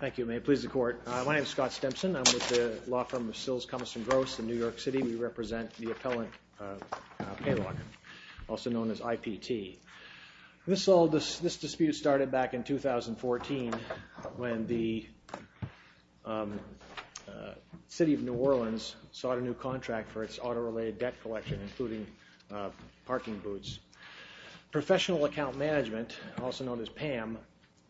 Thank you. May it please the court. My name is Scott Stempson. I'm with the law firm of Sills, Cummins & Gross in New York City. We represent the appellant pay logger, also known as IPT. This dispute started back in 2014 when the city of New Orleans sought a new contract for its auto-related debt collection, including parking boots. Professional Account Management, also known as PAM,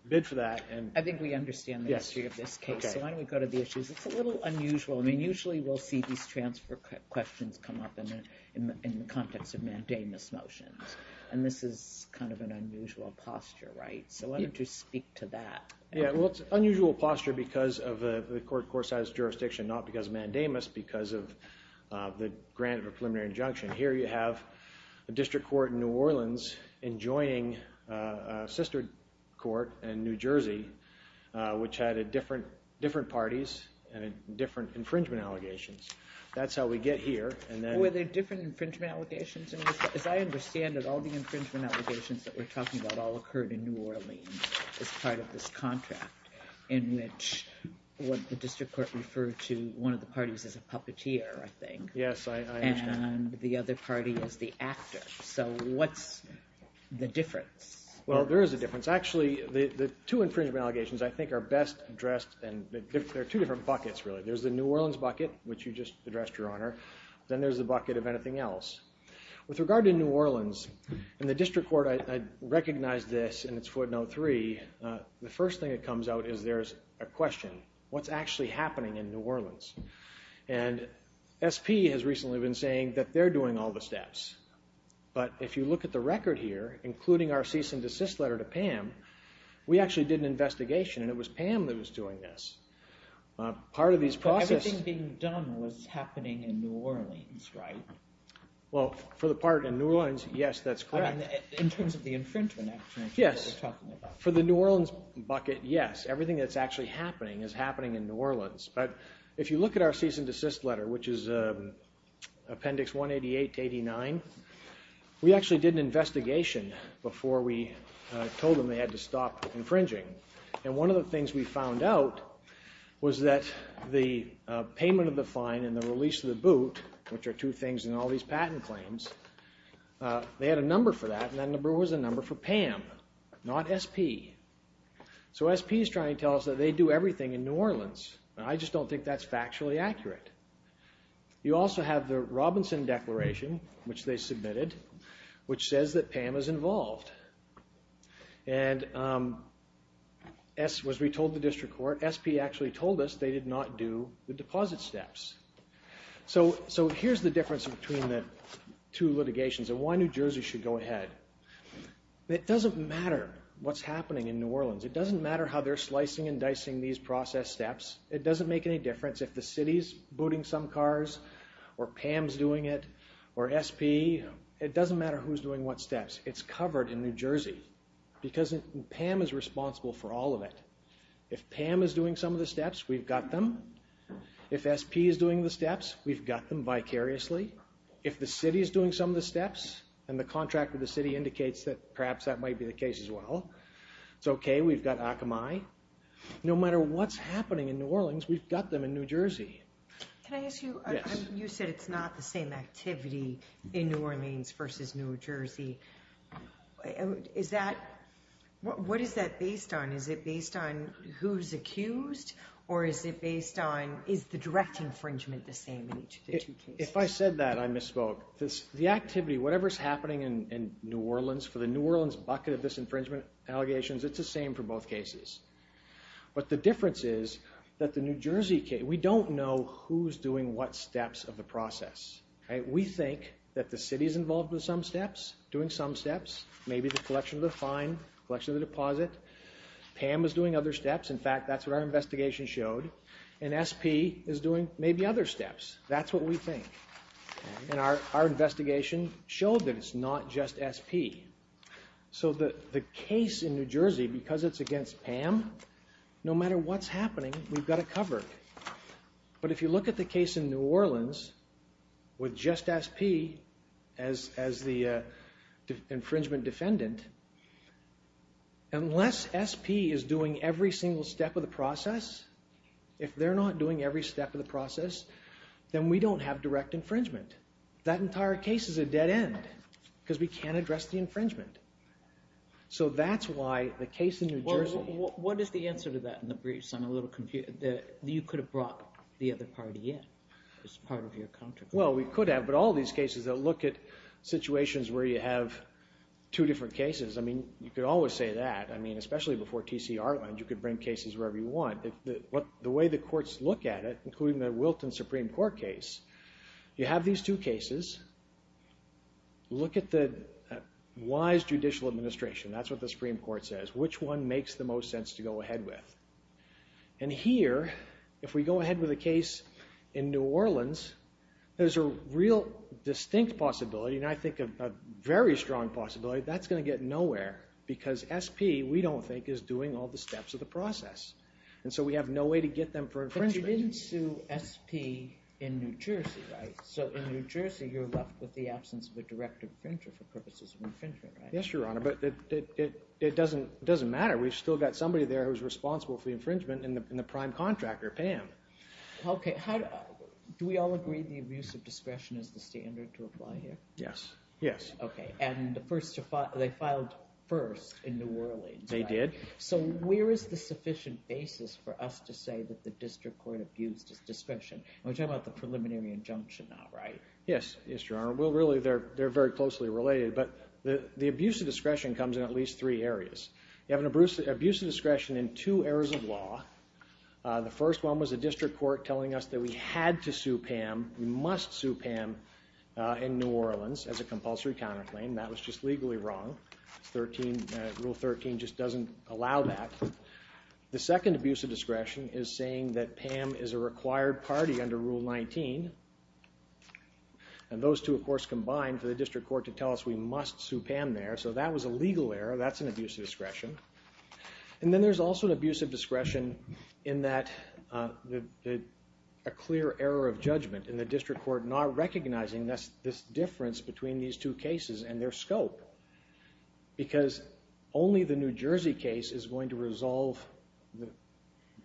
bid for that. I think we understand the history of this case, so why don't we go to the issues. It's a little unusual. I mean, usually we'll see these transfer questions come up in the motions, and this is kind of an unusual posture, right? So why don't you speak to that. Yeah, well, it's unusual posture because of the court court-sized jurisdiction, not because of mandamus, because of the grant of a preliminary injunction. Here you have a district court in New Orleans enjoining a sister court in New Jersey, which had different parties and different infringement allegations. That's how we get here. Were there different infringement allegations? As I understand it, all the infringement allegations that we're talking about all occurred in New Orleans as part of this contract, in which what the district court referred to one of the parties as a puppeteer, I think. Yes, I understand. And the other party as the actor. So what's the difference? Well, there is a difference. Actually, the two infringement allegations, I think, are best addressed, and there are two different buckets, really. There's the New Orleans bucket, which you just addressed, Your Honor. Then there's the bucket of anything else. With regard to New Orleans, in the district court, I recognize this in its footnote 3. The first thing that comes out is there's a question. What's actually happening in New Orleans? And SP has recently been saying that they're doing all the steps. But if you look at the record here, including our cease and desist letter to Pam, we actually did an investigation, and it was Pam that was doing this. Part of these processes... Well, for the part in New Orleans, yes, that's correct. In terms of the infringement, actually. Yes, for the New Orleans bucket, yes. Everything that's actually happening is happening in New Orleans. But if you look at our cease and desist letter, which is Appendix 188-89, we actually did an investigation before we told them they had to stop infringing. And one of the things we found out was that the payment of the fine and the release of the boot, which are two things in all these patent claims, they had a number for that, and that number was a number for Pam, not SP. So SP is trying to tell us that they do everything in New Orleans. I just don't think that's factually accurate. You also have the Robinson Declaration, which they submitted, which says that Pam is involved. And as we told the district court, SP actually told us they did not do the deposit steps. So here's the difference between the two litigations and why New Jersey should go ahead. It doesn't matter what's happening in New Orleans. It doesn't matter how they're slicing and dicing these process steps. It doesn't make any difference if the city's booting some cars or Pam's doing it or SP. It doesn't matter who's doing what steps. It's covered in New Jersey because Pam is responsible for all of it. If Pam is doing some of the steps, we've got them. If SP is doing the steps, we've got them vicariously. If the city is doing some of the steps and the contract with the city indicates that perhaps that might be the case as well, it's okay. We've got Akamai. No matter what's happening in New Orleans, we've got them in New Jersey. Can I ask you, you said it's not the same activity in New Orleans versus New Jersey. What is that based on? Is it based on who's accused or is it based on, is the direct infringement the same in each of the two cases? If I said that, I misspoke. The activity, whatever's happening in New Orleans, for the New Orleans bucket of disinfringement allegations, it's the same for both cases. But the difference is that the New Jersey case, we don't know who's doing what steps of the process. We think that the city is involved with some steps, doing some steps, maybe the collection of the fine, collection of the deposit. Pam is doing other steps. In fact, that's what our investigation showed. And SP is doing maybe other steps. That's what we think. And our investigation showed that it's not just SP. So the case in New Jersey, because it's against Pam, no matter what's happening, we've got it covered. But if you look at the case in New Orleans, with just SP as the infringement defendant, unless SP is doing every single step of the process, if they're not doing every step of the process, then we don't have direct infringement. That entire case is a dead end because we can't address the infringement. So that's why the case in New Jersey... Well, what is the answer to that in the briefs? I'm a little confused. You could have brought the other party in as part of your contribution. Well, we could have, but all these cases that look at situations where you have two different cases, I mean, you could always say that. I mean, especially before T.C. Arlen, you could bring cases wherever you want. The way the courts look at it, including the Wilton Supreme Court case, you have these two cases. Look at the wise judicial administration. That's what the Supreme Court says. Which one makes the most sense to go ahead with? And here, if we go ahead with a case in New Orleans, there's a real distinct possibility, and I think a very strong possibility, that's going to get nowhere, because SP, we don't think, is doing all the steps of the process. And so we have no way to get them for infringement. But you didn't sue SP in New Jersey, right? So in New Jersey, you're left with the absence of a direct infringer for purposes of infringement, right? Yes, Your Honor, but it doesn't matter. We've still got somebody there who's responsible for the infringement, and the prime contractor, Pam. Okay. Do we all agree the abuse of discretion is the standard to apply here? Yes. Yes. Okay. And they filed first in New Orleans, right? They did. So where is the sufficient basis for us to say that the district court abused its discretion? We're talking about the preliminary injunction, not right? Yes. Yes, Your Honor. Well, really, they're very closely related, but the abuse of discretion comes in at least three areas. You have an abuse of discretion in two areas of law. The first one was the district court telling us that we had to sue Pam, we must sue Pam in New Orleans as a compulsory counterclaim. That was just legally wrong. Rule 13 just doesn't allow that. The second abuse of discretion is saying that Pam is a required party under Rule 19. And those two, of course, combine for the district court to tell us we must sue Pam there, so that was a legal error. That's an abuse of discretion. And then there's also an abuse of discretion in that a clear error of judgment in the district court not recognizing this difference between these two cases and their scope, because only the New Jersey case is going to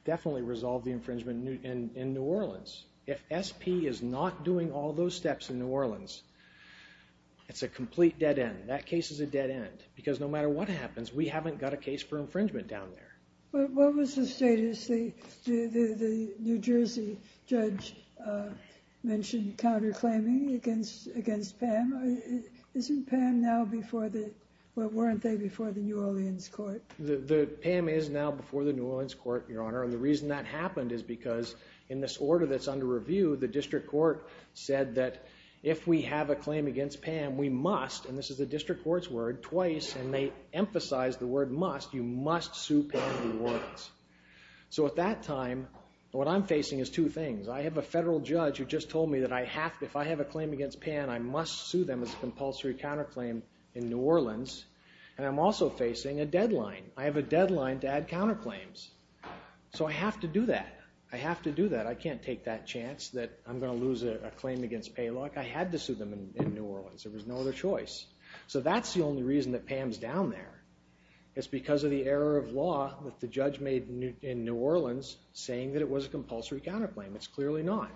definitely resolve the infringement in New Orleans. If SP is not doing all those steps in New Orleans, it's a complete dead end. That case is a dead end, because no matter what happens, we haven't got a case for infringement down there. What was the status? The New Jersey judge mentioned counterclaiming against Pam. Isn't Pam now before the... Well, weren't they before the New Orleans court? Pam is now before the New Orleans court, Your Honor, and the reason that happened is because in this order that's under review, the district court said that if we have a claim against Pam, we must, and this is the district court's word, twice, and they emphasized the word must, you must sue Pam in New Orleans. So at that time, what I'm facing is two things. I have a federal judge who just told me that if I have a claim against Pam, I must sue them as a compulsory counterclaim in New Orleans, and I'm also facing a deadline. I have a deadline to add counterclaims. So I have to do that. I have to do that. I can't take that chance that I'm gonna lose a claim against pay luck. I had to sue them in New Orleans. There was no other choice. So that's the only reason that Pam's down there. It's because of the error of law that the judge made in New Orleans saying that it was a compulsory counterclaim. It's clearly not.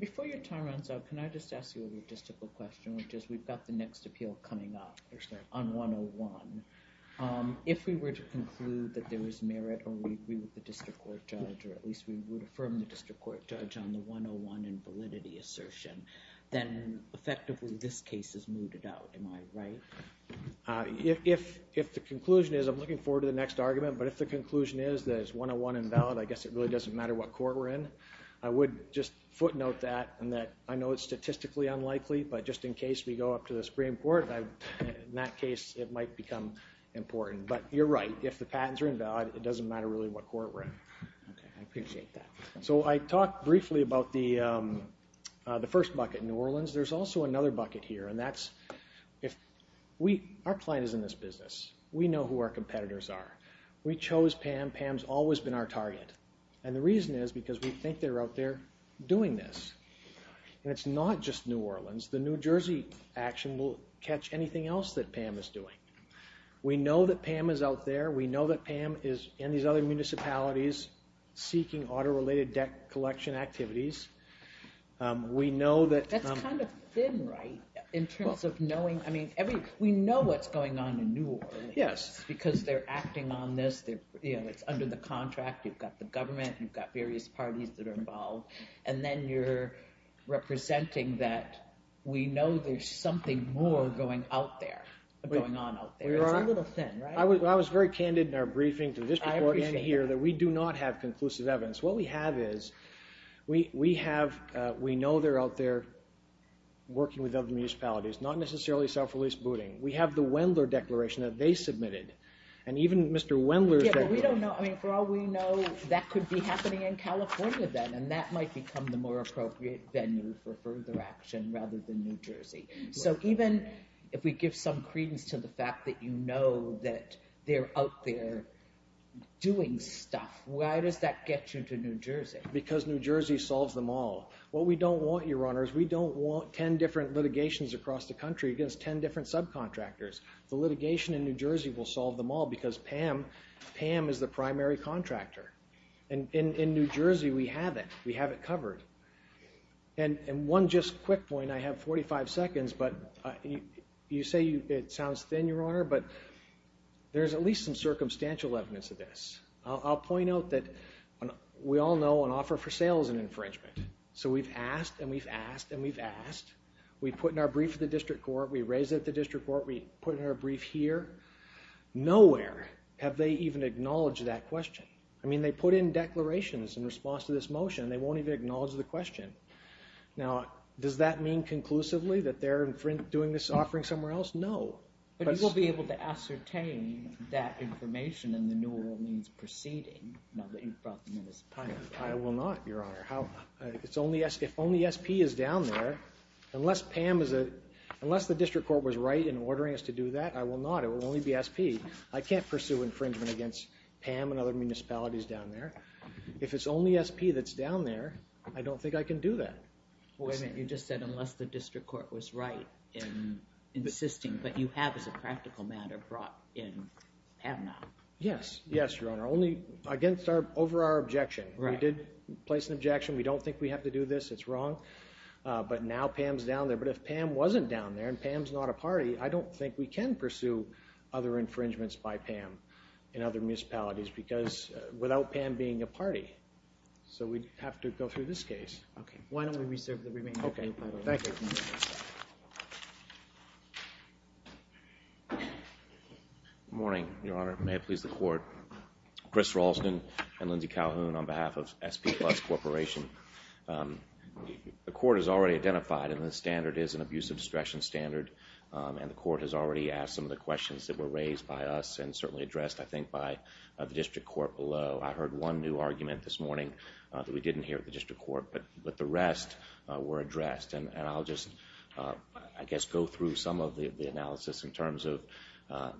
Before your time runs out, can I just ask you a logistical question, which is we've got the next appeal coming up on 101. If we were to conclude that there was merit or we agree with the district court judge, or at least we would affirm the district court judge on the 101 and validity assertion, then effectively this case is mooted out. Am I right? If the conclusion is, I'm looking forward to the next argument, but if the conclusion is that it's 101 and valid, I guess it really doesn't matter what court we're in. I would just footnote that and that I know it's statistically unlikely, but just in case we go up to the Supreme Court, in that case, it might become important. But you're right, if the patents are invalid, it doesn't matter really what court we're in. Okay, I appreciate that. So I talked briefly about the first bucket in New Orleans. There's also another bucket here, and that's... Our client is in this business. We know who our competitors are. We chose Pam. Pam's always been our target. And the reason is because we think they're out there doing this. And it's not just New Orleans. The New Jersey action will catch anything else that Pam is doing. We know that Pam is out there. We know that Pam is in these other municipalities seeking auto related debt collection activities. We know that... That's kind of thin, right? In terms of knowing... We know what's going on in New Orleans. Yes. Because they're acting on this, it's under the contract, you've got the government, you've got various parties that are involved, and then you're representing that we know there's something more going on out there. It's a little thin, right? I was very candid in our briefing to this before and here that we do not have conclusive evidence. What we have is... We know they're out there working with other municipalities, not necessarily self release booting. We have the Wendler Declaration that they submitted. And even Mr. Wendler's declaration... Yeah, but we don't know... For all we know, that could be happening in California then, and that might become the more appropriate venue for further action rather than New Jersey. So even if we give some credence to the fact that you know that they're out there doing stuff, why does that get you to New Jersey? Because New Jersey solves them all. What we don't want, Your Honors, we don't want 10 different litigations across the country against 10 different subcontractors. The litigation in New Jersey will solve them all because Pam is the primary contractor. And in New Jersey, we have it, we have it covered. And one just quick point, I have 45 seconds, but you say it sounds thin, Your Honor, but there's at least some circumstantial evidence of this. I'll point out that we all know an offer for sale is an infringement. So we've asked, and we've asked, and we've asked. We put in our brief at the district court, we raise it at the district court, we put in our brief. Will they even acknowledge that question? I mean, they put in declarations in response to this motion and they won't even acknowledge the question. Now, does that mean conclusively that they're doing this offering somewhere else? No. But you will be able to ascertain that information and the new rule means proceeding, now that you've brought them in as a primary contractor. I will not, Your Honor. If only SP is down there, unless Pam is a... Unless the district court was right in ordering us to do that, I will not. It will only be SP. I can't pursue infringement against Pam and other municipalities down there. If it's only SP that's down there, I don't think I can do that. Wait a minute, you just said unless the district court was right in insisting. But you have, as a practical matter, brought in Pam now. Yes. Yes, Your Honor. Only against our, over our objection. Right. We did place an objection. We don't think we have to do this. It's wrong. But now Pam's down there. But if Pam wasn't down there, and Pam's not a party, I don't think we can pursue other infringements by Pam in other municipalities because without Pam being a party. So we'd have to go through this case. Okay. Why don't we reserve the remaining time? Okay. Thank you. Good morning, Your Honor. May it please the court. Chris Ralston and Lindsay Calhoun on behalf of SP Plus Corporation. The court has already identified, and the standard is an abuse of discretion standard. And the court has already asked some of the questions that were raised by us, and certainly addressed, I think, by the district court below. I heard one new argument this morning that we didn't hear at the district court. But the rest were addressed. And I'll just, I guess, go through some of the analysis in terms of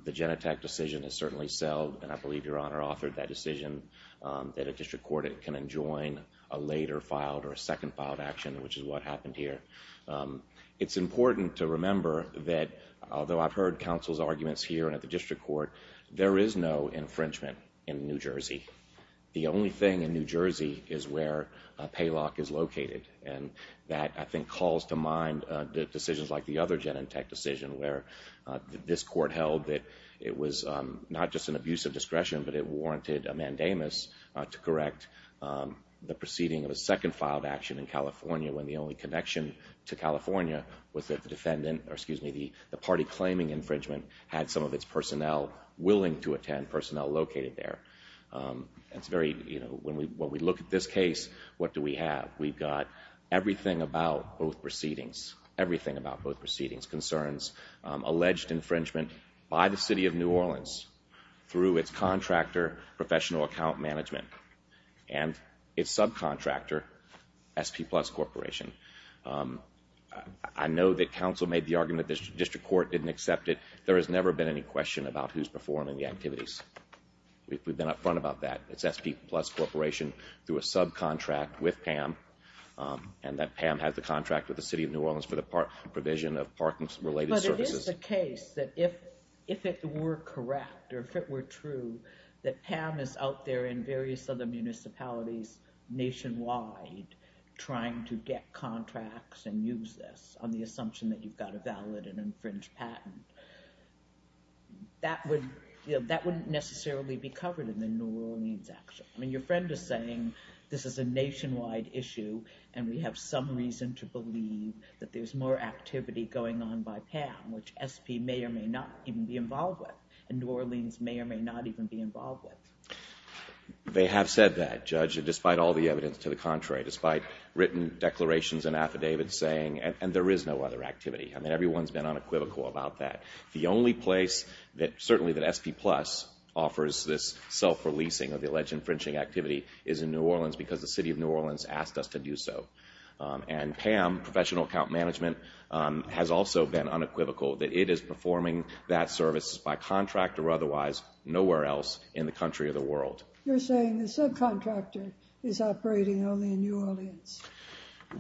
the Genentech decision has certainly selled, and I believe, Your Honor, authored that decision, that a district court can enjoin a later filed or a second filed action, which is what happened here. It's important to remember that, although I've heard counsel's arguments here and at the district court, there is no infringement in New Jersey. The only thing in New Jersey is where a pay lock is located. And that, I think, calls to mind decisions like the other Genentech decision, where this court held that it was not just an abuse of discretion, but it warranted a mandamus to correct the proceeding of a second filed action in California, when the only connection to California was that the defendant, or excuse me, the party claiming infringement had some of its personnel willing to attend, personnel located there. It's very, you know, when we look at this case, what do we have? We've got everything about both proceedings, everything about both proceedings, concerns, alleged infringement by the city of New Orleans through its contractor, Professional Account Management, and its subcontractor, SP Plus Corporation. I know that counsel made the argument that the district court didn't accept it. There has never been any question about who's performing the activities. We've been upfront about that. It's SP Plus Corporation through a subcontract with PAM, and that PAM has the contract with the city of New Orleans for the provision of parking related services. It's a case that if it were correct, or if it were true, that PAM is out there in various other municipalities nationwide trying to get contracts and use this on the assumption that you've got a valid and infringed patent. That would, you know, that wouldn't necessarily be covered in the New Orleans action. I mean, your friend is saying this is a nationwide issue and we have some reason to believe that there's more activity going on by PAM, which SP may or may not even be involved with, and New Orleans may or may not even be involved with. They have said that, Judge, despite all the evidence to the contrary, despite written declarations and affidavits saying, and there is no other activity, I mean, everyone's been unequivocal about that. The only place that certainly that SP Plus offers this self-releasing of the alleged infringing activity is in New Orleans because the city of New Orleans asked us to do so. And PAM, Professional Account Management, has also been unequivocal that it is performing that service by contract or otherwise nowhere else in the country or the world. You're saying the subcontractor is operating only in New Orleans.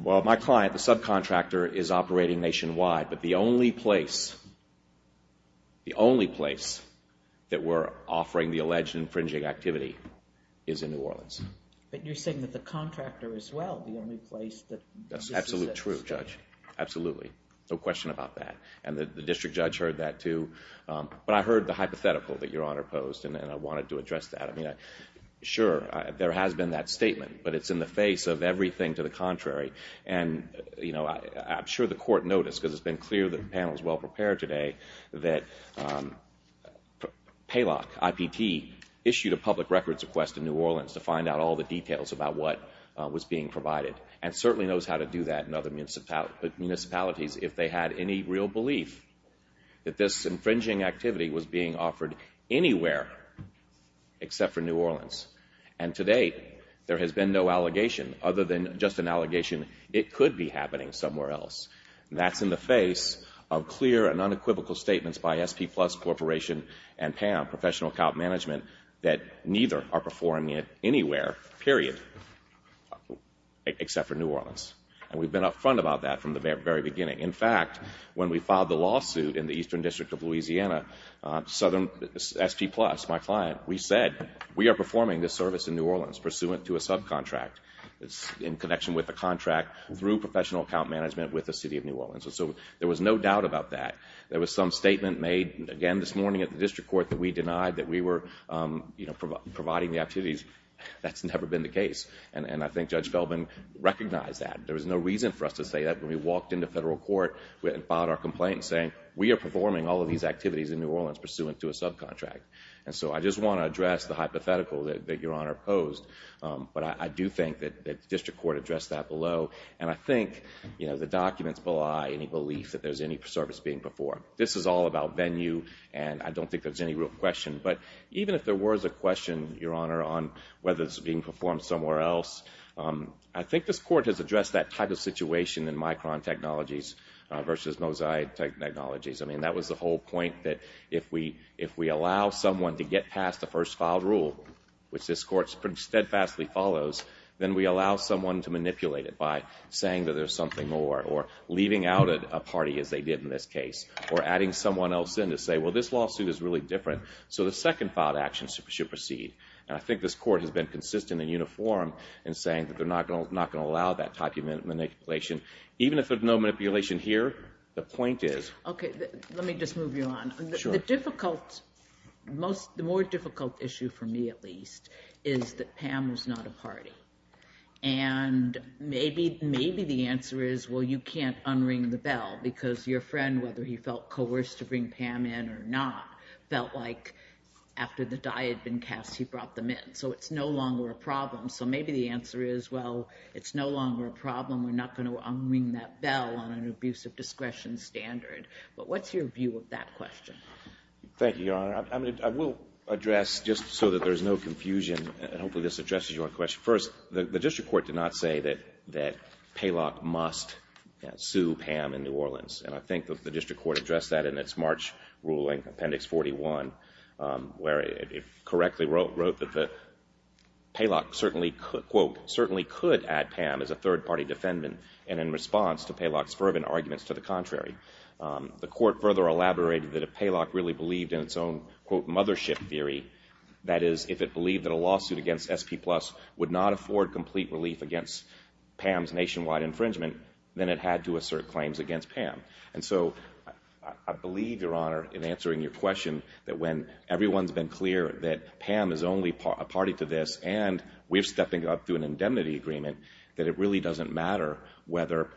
Well, my client, the subcontractor is operating nationwide, but the only place, the only place that we're offering the alleged infringing activity is in New Orleans. But you're saying that the contractor as well, the only place that... That's absolutely true, Judge. Absolutely. No question about that. And the district judge heard that too. But I heard the hypothetical that Your Honor posed and I wanted to address that. I mean, sure, there has been that statement, but it's in the face of everything to the contrary. And, you know, I'm sure the court noticed, because it's been clear that the panel is well-prepared today, that Paylock, IPT, issued a public records request to New Orleans to find out all the details about what was being provided and certainly knows how to do that in other municipalities, if they had any real belief that this infringing activity was being offered anywhere except for New Orleans. And to date, there has been no allegation other than just an allegation it could be happening somewhere else. That's in the face of clear and unequivocal statements by SP Plus Corporation and PAM, Professional Account Management, that neither are performing it anywhere, period, except for New Orleans. And we've been up front about that from the very beginning. In fact, when we filed the lawsuit in the Eastern District of Louisiana, SP Plus, my client, we said, we are performing this service in New Orleans pursuant to a subcontract in connection with a contract through Professional Account Management with the City of New Orleans. And so there was no doubt about that. There was some statement made again this morning at the district court that we denied that we were, you know, providing the activities. That's never been the case. And I think Judge Feldman recognized that. There was no reason for us to say that. When we walked into federal court and filed our complaint saying, we are performing all of these activities in New Orleans pursuant to a subcontract. And so I just want to address the hypothetical that Your Honor posed. But I do think that the district court addressed that below. And I think, you know, the documents belie any belief that there's any service being performed. This is all about venue. And I don't think there's any real question. But even if there was a question, Your Honor, on whether this is being performed somewhere else, I think this court has addressed that type of situation in Micron Technologies versus Mosaic Technologies. I mean, that was the whole point that if we allow someone to get past the first filed rule, which this court steadfastly follows, then we allow someone to manipulate it by saying that there's something more or leaving out a party as they did in this case or adding someone else in to say, well, this lawsuit is really different. So the second filed action should proceed. And I think this court has been consistent and uniform in saying that they're not going to not going to allow that type of manipulation, even if there's no manipulation here. The point is, OK, let me just move you on. The difficult, the more difficult issue for me, at least, is that Pam was not a party. And maybe, maybe the answer is, well, you can't unring the bell because your friend, whether he felt coerced to bring Pam in or not, felt like after the die had been cast, he brought them in. So it's no longer a problem. So maybe the answer is, well, it's no longer a problem. We're not going to unring that bell on an abuse of discretion standard. But what's your view of that question? Thank you, Your Honor. I will address just so that there's no confusion and hopefully this addresses your question. First, the district court did not say that that Paylock must sue Pam in New York. I think that the district court addressed that in its March ruling, Appendix 41, where it correctly wrote that the Paylock certainly, quote, certainly could add Pam as a third party defendant. And in response to Paylock's fervent arguments to the contrary, the court further elaborated that if Paylock really believed in its own, quote, mothership theory, that is, if it believed that a lawsuit against SP Plus would not afford complete relief against Pam's nationwide infringement, then it had to assert claims against Pam. And so I believe, Your Honor, in answering your question, that when everyone's been clear that Pam is only a party to this and we're stepping up through an indemnity agreement, that it really doesn't matter whether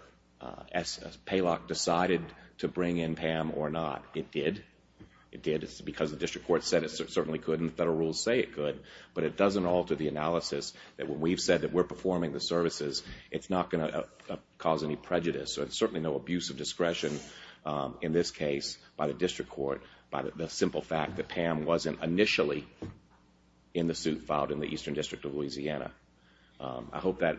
Paylock decided to bring in Pam or not. It did. It did. It's because the district court said it certainly could and federal rules say it could. But it doesn't alter the analysis that when we've said that we're performing the services, it's not going to cause any prejudice or certainly no abuse of discretion in this case by the district court, by the simple fact that Pam wasn't initially in the suit filed in the Eastern District of Louisiana. I hope that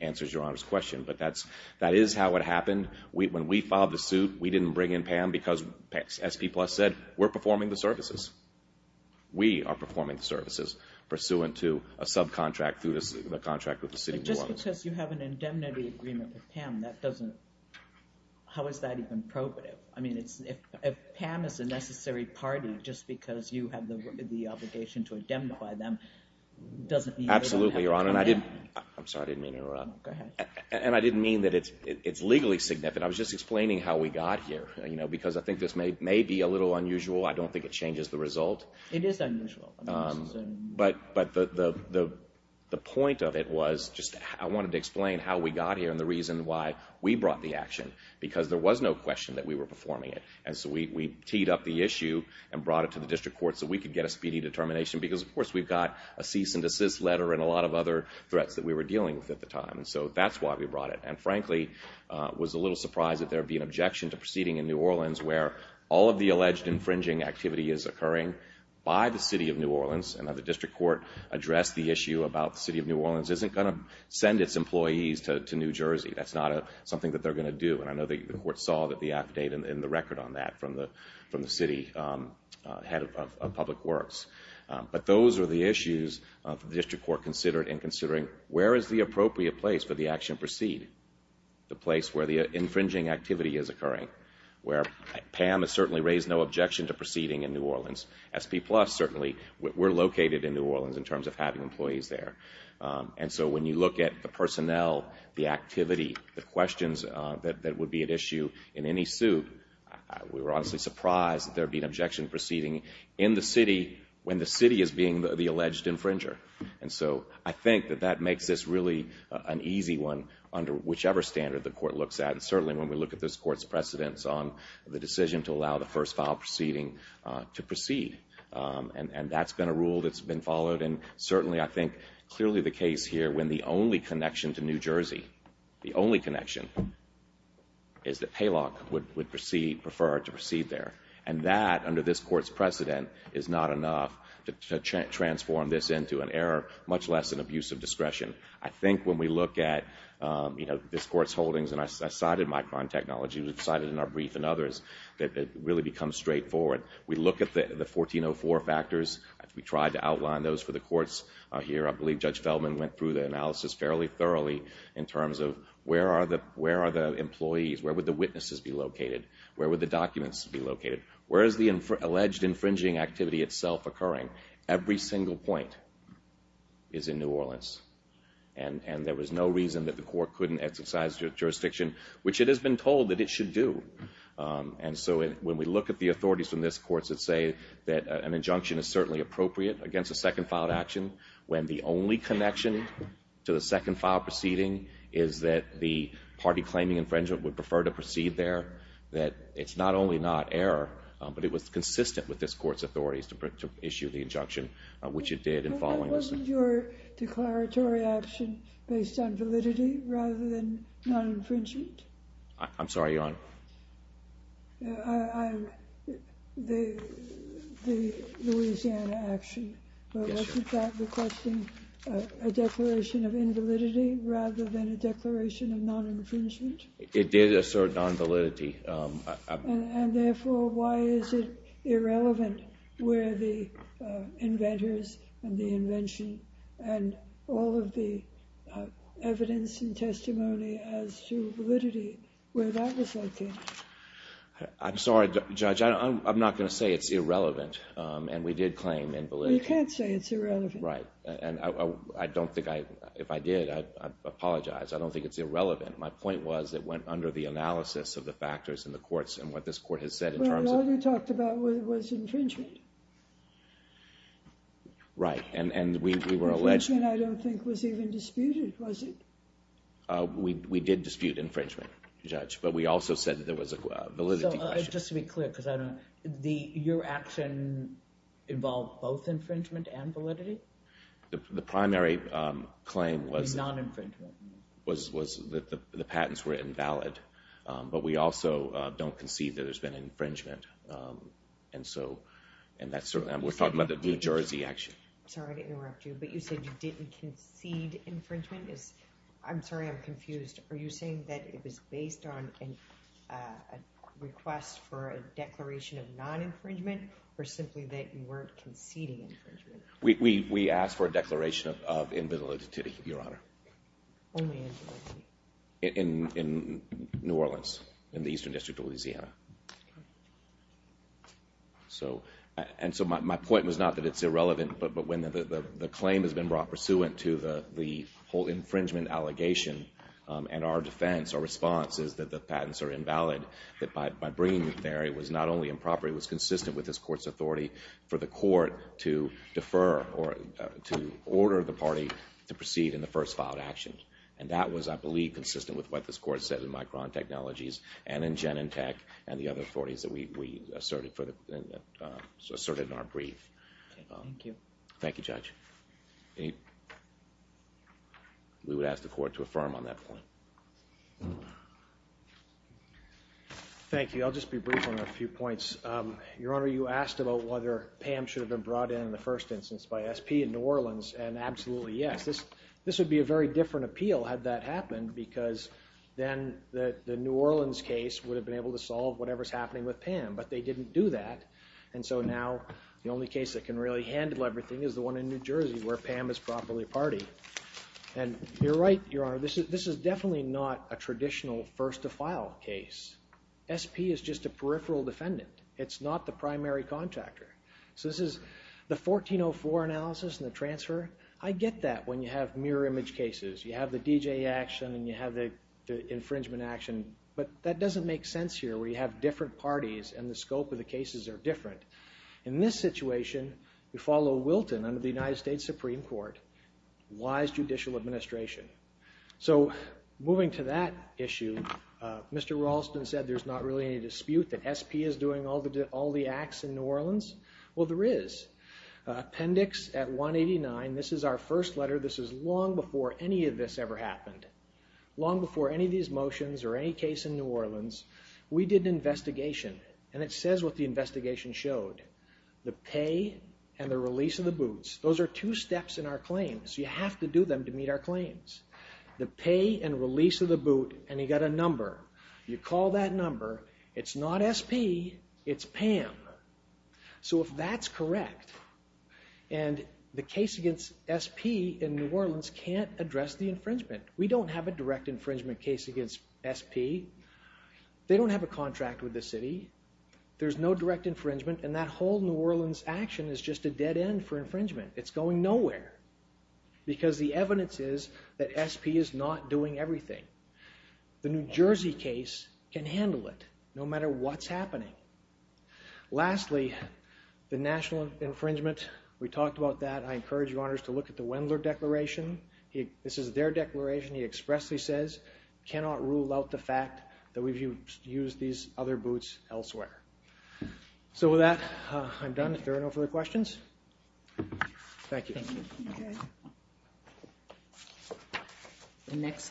answers Your Honor's question. But that is how it happened. When we filed the suit, we didn't bring in Pam because, as SP Plus said, we're performing the services. We are performing the services pursuant to a subcontract through the contract with the city. Just because you have an indemnity agreement with Pam, that doesn't, how is that even probative? I mean, if Pam is a necessary party, just because you have the obligation to indemnify them, doesn't mean... Absolutely, Your Honor. And I didn't, I'm sorry, I didn't mean to interrupt, and I didn't mean that it's legally significant. I was just explaining how we got here, you know, because I think this may be a little unusual. I don't think it changes the result. It is unusual. But the point of it was just, I wanted to explain how we got here and the reason why we brought the action, because there was no question that we were performing it. And so we teed up the issue and brought it to the district court so we could get a speedy determination. Because, of course, we've got a cease and desist letter and a lot of other threats that we were dealing with at the time. And so that's why we brought it. And frankly, I was a little surprised that there would be an objection to proceeding in New Orleans, where all of the alleged infringing activity is occurring by the City of New Orleans. And the district court addressed the issue about the City of New Orleans isn't going to send its employees to New Jersey. That's not something that they're going to do. And I know the court saw that the affidavit and the record on that from the city head of public works. But those are the issues the district court considered in considering where is the appropriate place for the action to proceed, the place where the infringing activity is occurring, where Pam has certainly raised no objection to proceeding in New Orleans. We're located in New Orleans in terms of having employees there. And so when you look at the personnel, the activity, the questions that would be at issue in any suit, we were honestly surprised that there'd be an objection proceeding in the city when the city is being the alleged infringer. And so I think that that makes this really an easy one under whichever standard the court looks at. And certainly when we look at this court's precedence on the record, that's been a rule that's been followed. And certainly I think clearly the case here when the only connection to New Jersey, the only connection is that Paylock would prefer to proceed there. And that, under this court's precedent, is not enough to transform this into an error, much less an abuse of discretion. I think when we look at this court's holdings, and I cited my crime technology, we've cited in our brief and others, that it really becomes straightforward. We look at the 1404 factors. We tried to outline those for the courts here. I believe Judge Feldman went through the analysis fairly thoroughly in terms of where are the employees? Where would the witnesses be located? Where would the documents be located? Where is the alleged infringing activity itself occurring? Every single point is in New Orleans. And there was no reason that the court couldn't exercise jurisdiction, which it has been told that it should do. And so when we look at the authorities from this court that say that an injunction is certainly appropriate against a second filed action, when the only connection to the second file proceeding is that the party claiming infringement would prefer to proceed there, that it's not only not error, but it was consistent with this court's authorities to issue the injunction, which it did in following this. But that wasn't your declaratory option based on validity rather than non-infringement? I'm sorry, Your Honor. I, the, the Louisiana action, wasn't that requesting a declaration of invalidity rather than a declaration of non-infringement? It did assert non-validity. And therefore, why is it irrelevant where the inventors and the invention and all of the evidence and testimony as to validity, where that was located? I'm sorry, Judge. I'm not going to say it's irrelevant. And we did claim invalidity. You can't say it's irrelevant. Right. And I don't think I, if I did, I apologize. I don't think it's irrelevant. My point was it went under the analysis of the factors in the courts and what this court has said in terms of... Well, all you talked about was infringement. Right. And, and we were alleged... Infringement I don't think was even disputed, was it? We, we did dispute infringement, Judge. But we also said that there was a validity question. Just to be clear, because I don't, the, your action involved both infringement and validity? The primary claim was... Non-infringement. Was, was that the patents were invalid. But we also don't concede that there's been infringement. And so, and that's certainly, we're talking about the New Jersey action. Sorry to interrupt you, but you said you didn't concede infringement. Is, I'm sorry, I'm confused. Are you saying that it was based on a request for a declaration of non-infringement, or simply that you weren't conceding infringement? We, we, we asked for a declaration of invalidity, Your Honor. Only invalidity? In, in, in New Orleans, in the Eastern District of Louisiana. So, and so my, my point was not that it's irrelevant, but, but when the, the, the claim has been brought pursuant to the, the whole infringement allegation, and our defense, our response is that the patents are invalid. That by, by bringing it there, it was not only improper, it was consistent with this court's authority for the court to defer, or to order the party to proceed in the first filed action. And that was, I believe, consistent with what this court said in Micron Technologies, and in Genentech, and the other authorities that we, we asserted for the, asserted in our brief. Thank you. Thank you, Judge. Any, we would ask the court to affirm on that point. Thank you. I'll just be brief on a few points. Your Honor, you asked about whether PAM should have been brought in in the first instance by SP in New Orleans, and absolutely yes. This, this would be a very different appeal had that happened, because then the, the New Orleans case would have been able to solve whatever's happening with PAM, but they didn't do that, and so now the only case that can really handle everything is the one in New Jersey, where PAM is properly partied, and you're right, Your Honor, this is, this is definitely not a traditional first to file case. SP is just a peripheral defendant. It's not the primary contractor. So this is, the 1404 analysis and the transfer, I get that when you have mirror image cases. You have the DJ action, and you have the infringement action, but that doesn't make sense here, where you have different parties, and the scope of the cases are different. In this situation, we follow Wilton under the United States Supreme Court, wise judicial administration. So moving to that issue, Mr. Raulston said there's not really any dispute that SP is doing all the, all the acts in New Orleans. Well, there is. Appendix at 189, this is our first letter. This is long before any of this ever happened. Long before any of these motions or any case in New Orleans, we did an investigation showed the pay and the release of the boots. Those are two steps in our claims. You have to do them to meet our claims. The pay and release of the boot, and you got a number. You call that number. It's not SP, it's PAM. So if that's correct, and the case against SP in New Orleans can't address the infringement. We don't have a direct infringement case against SP. They don't have a contract with the city. There's no direct infringement. And that whole New Orleans action is just a dead end for infringement. It's going nowhere because the evidence is that SP is not doing everything. The New Jersey case can handle it no matter what's happening. Lastly, the national infringement, we talked about that. I encourage you honors to look at the Wendler declaration. He, this is their declaration. He expressly says, cannot rule out the fact that we've used these other boots elsewhere. So with that, I'm done. If there are no further questions. Thank you. Next.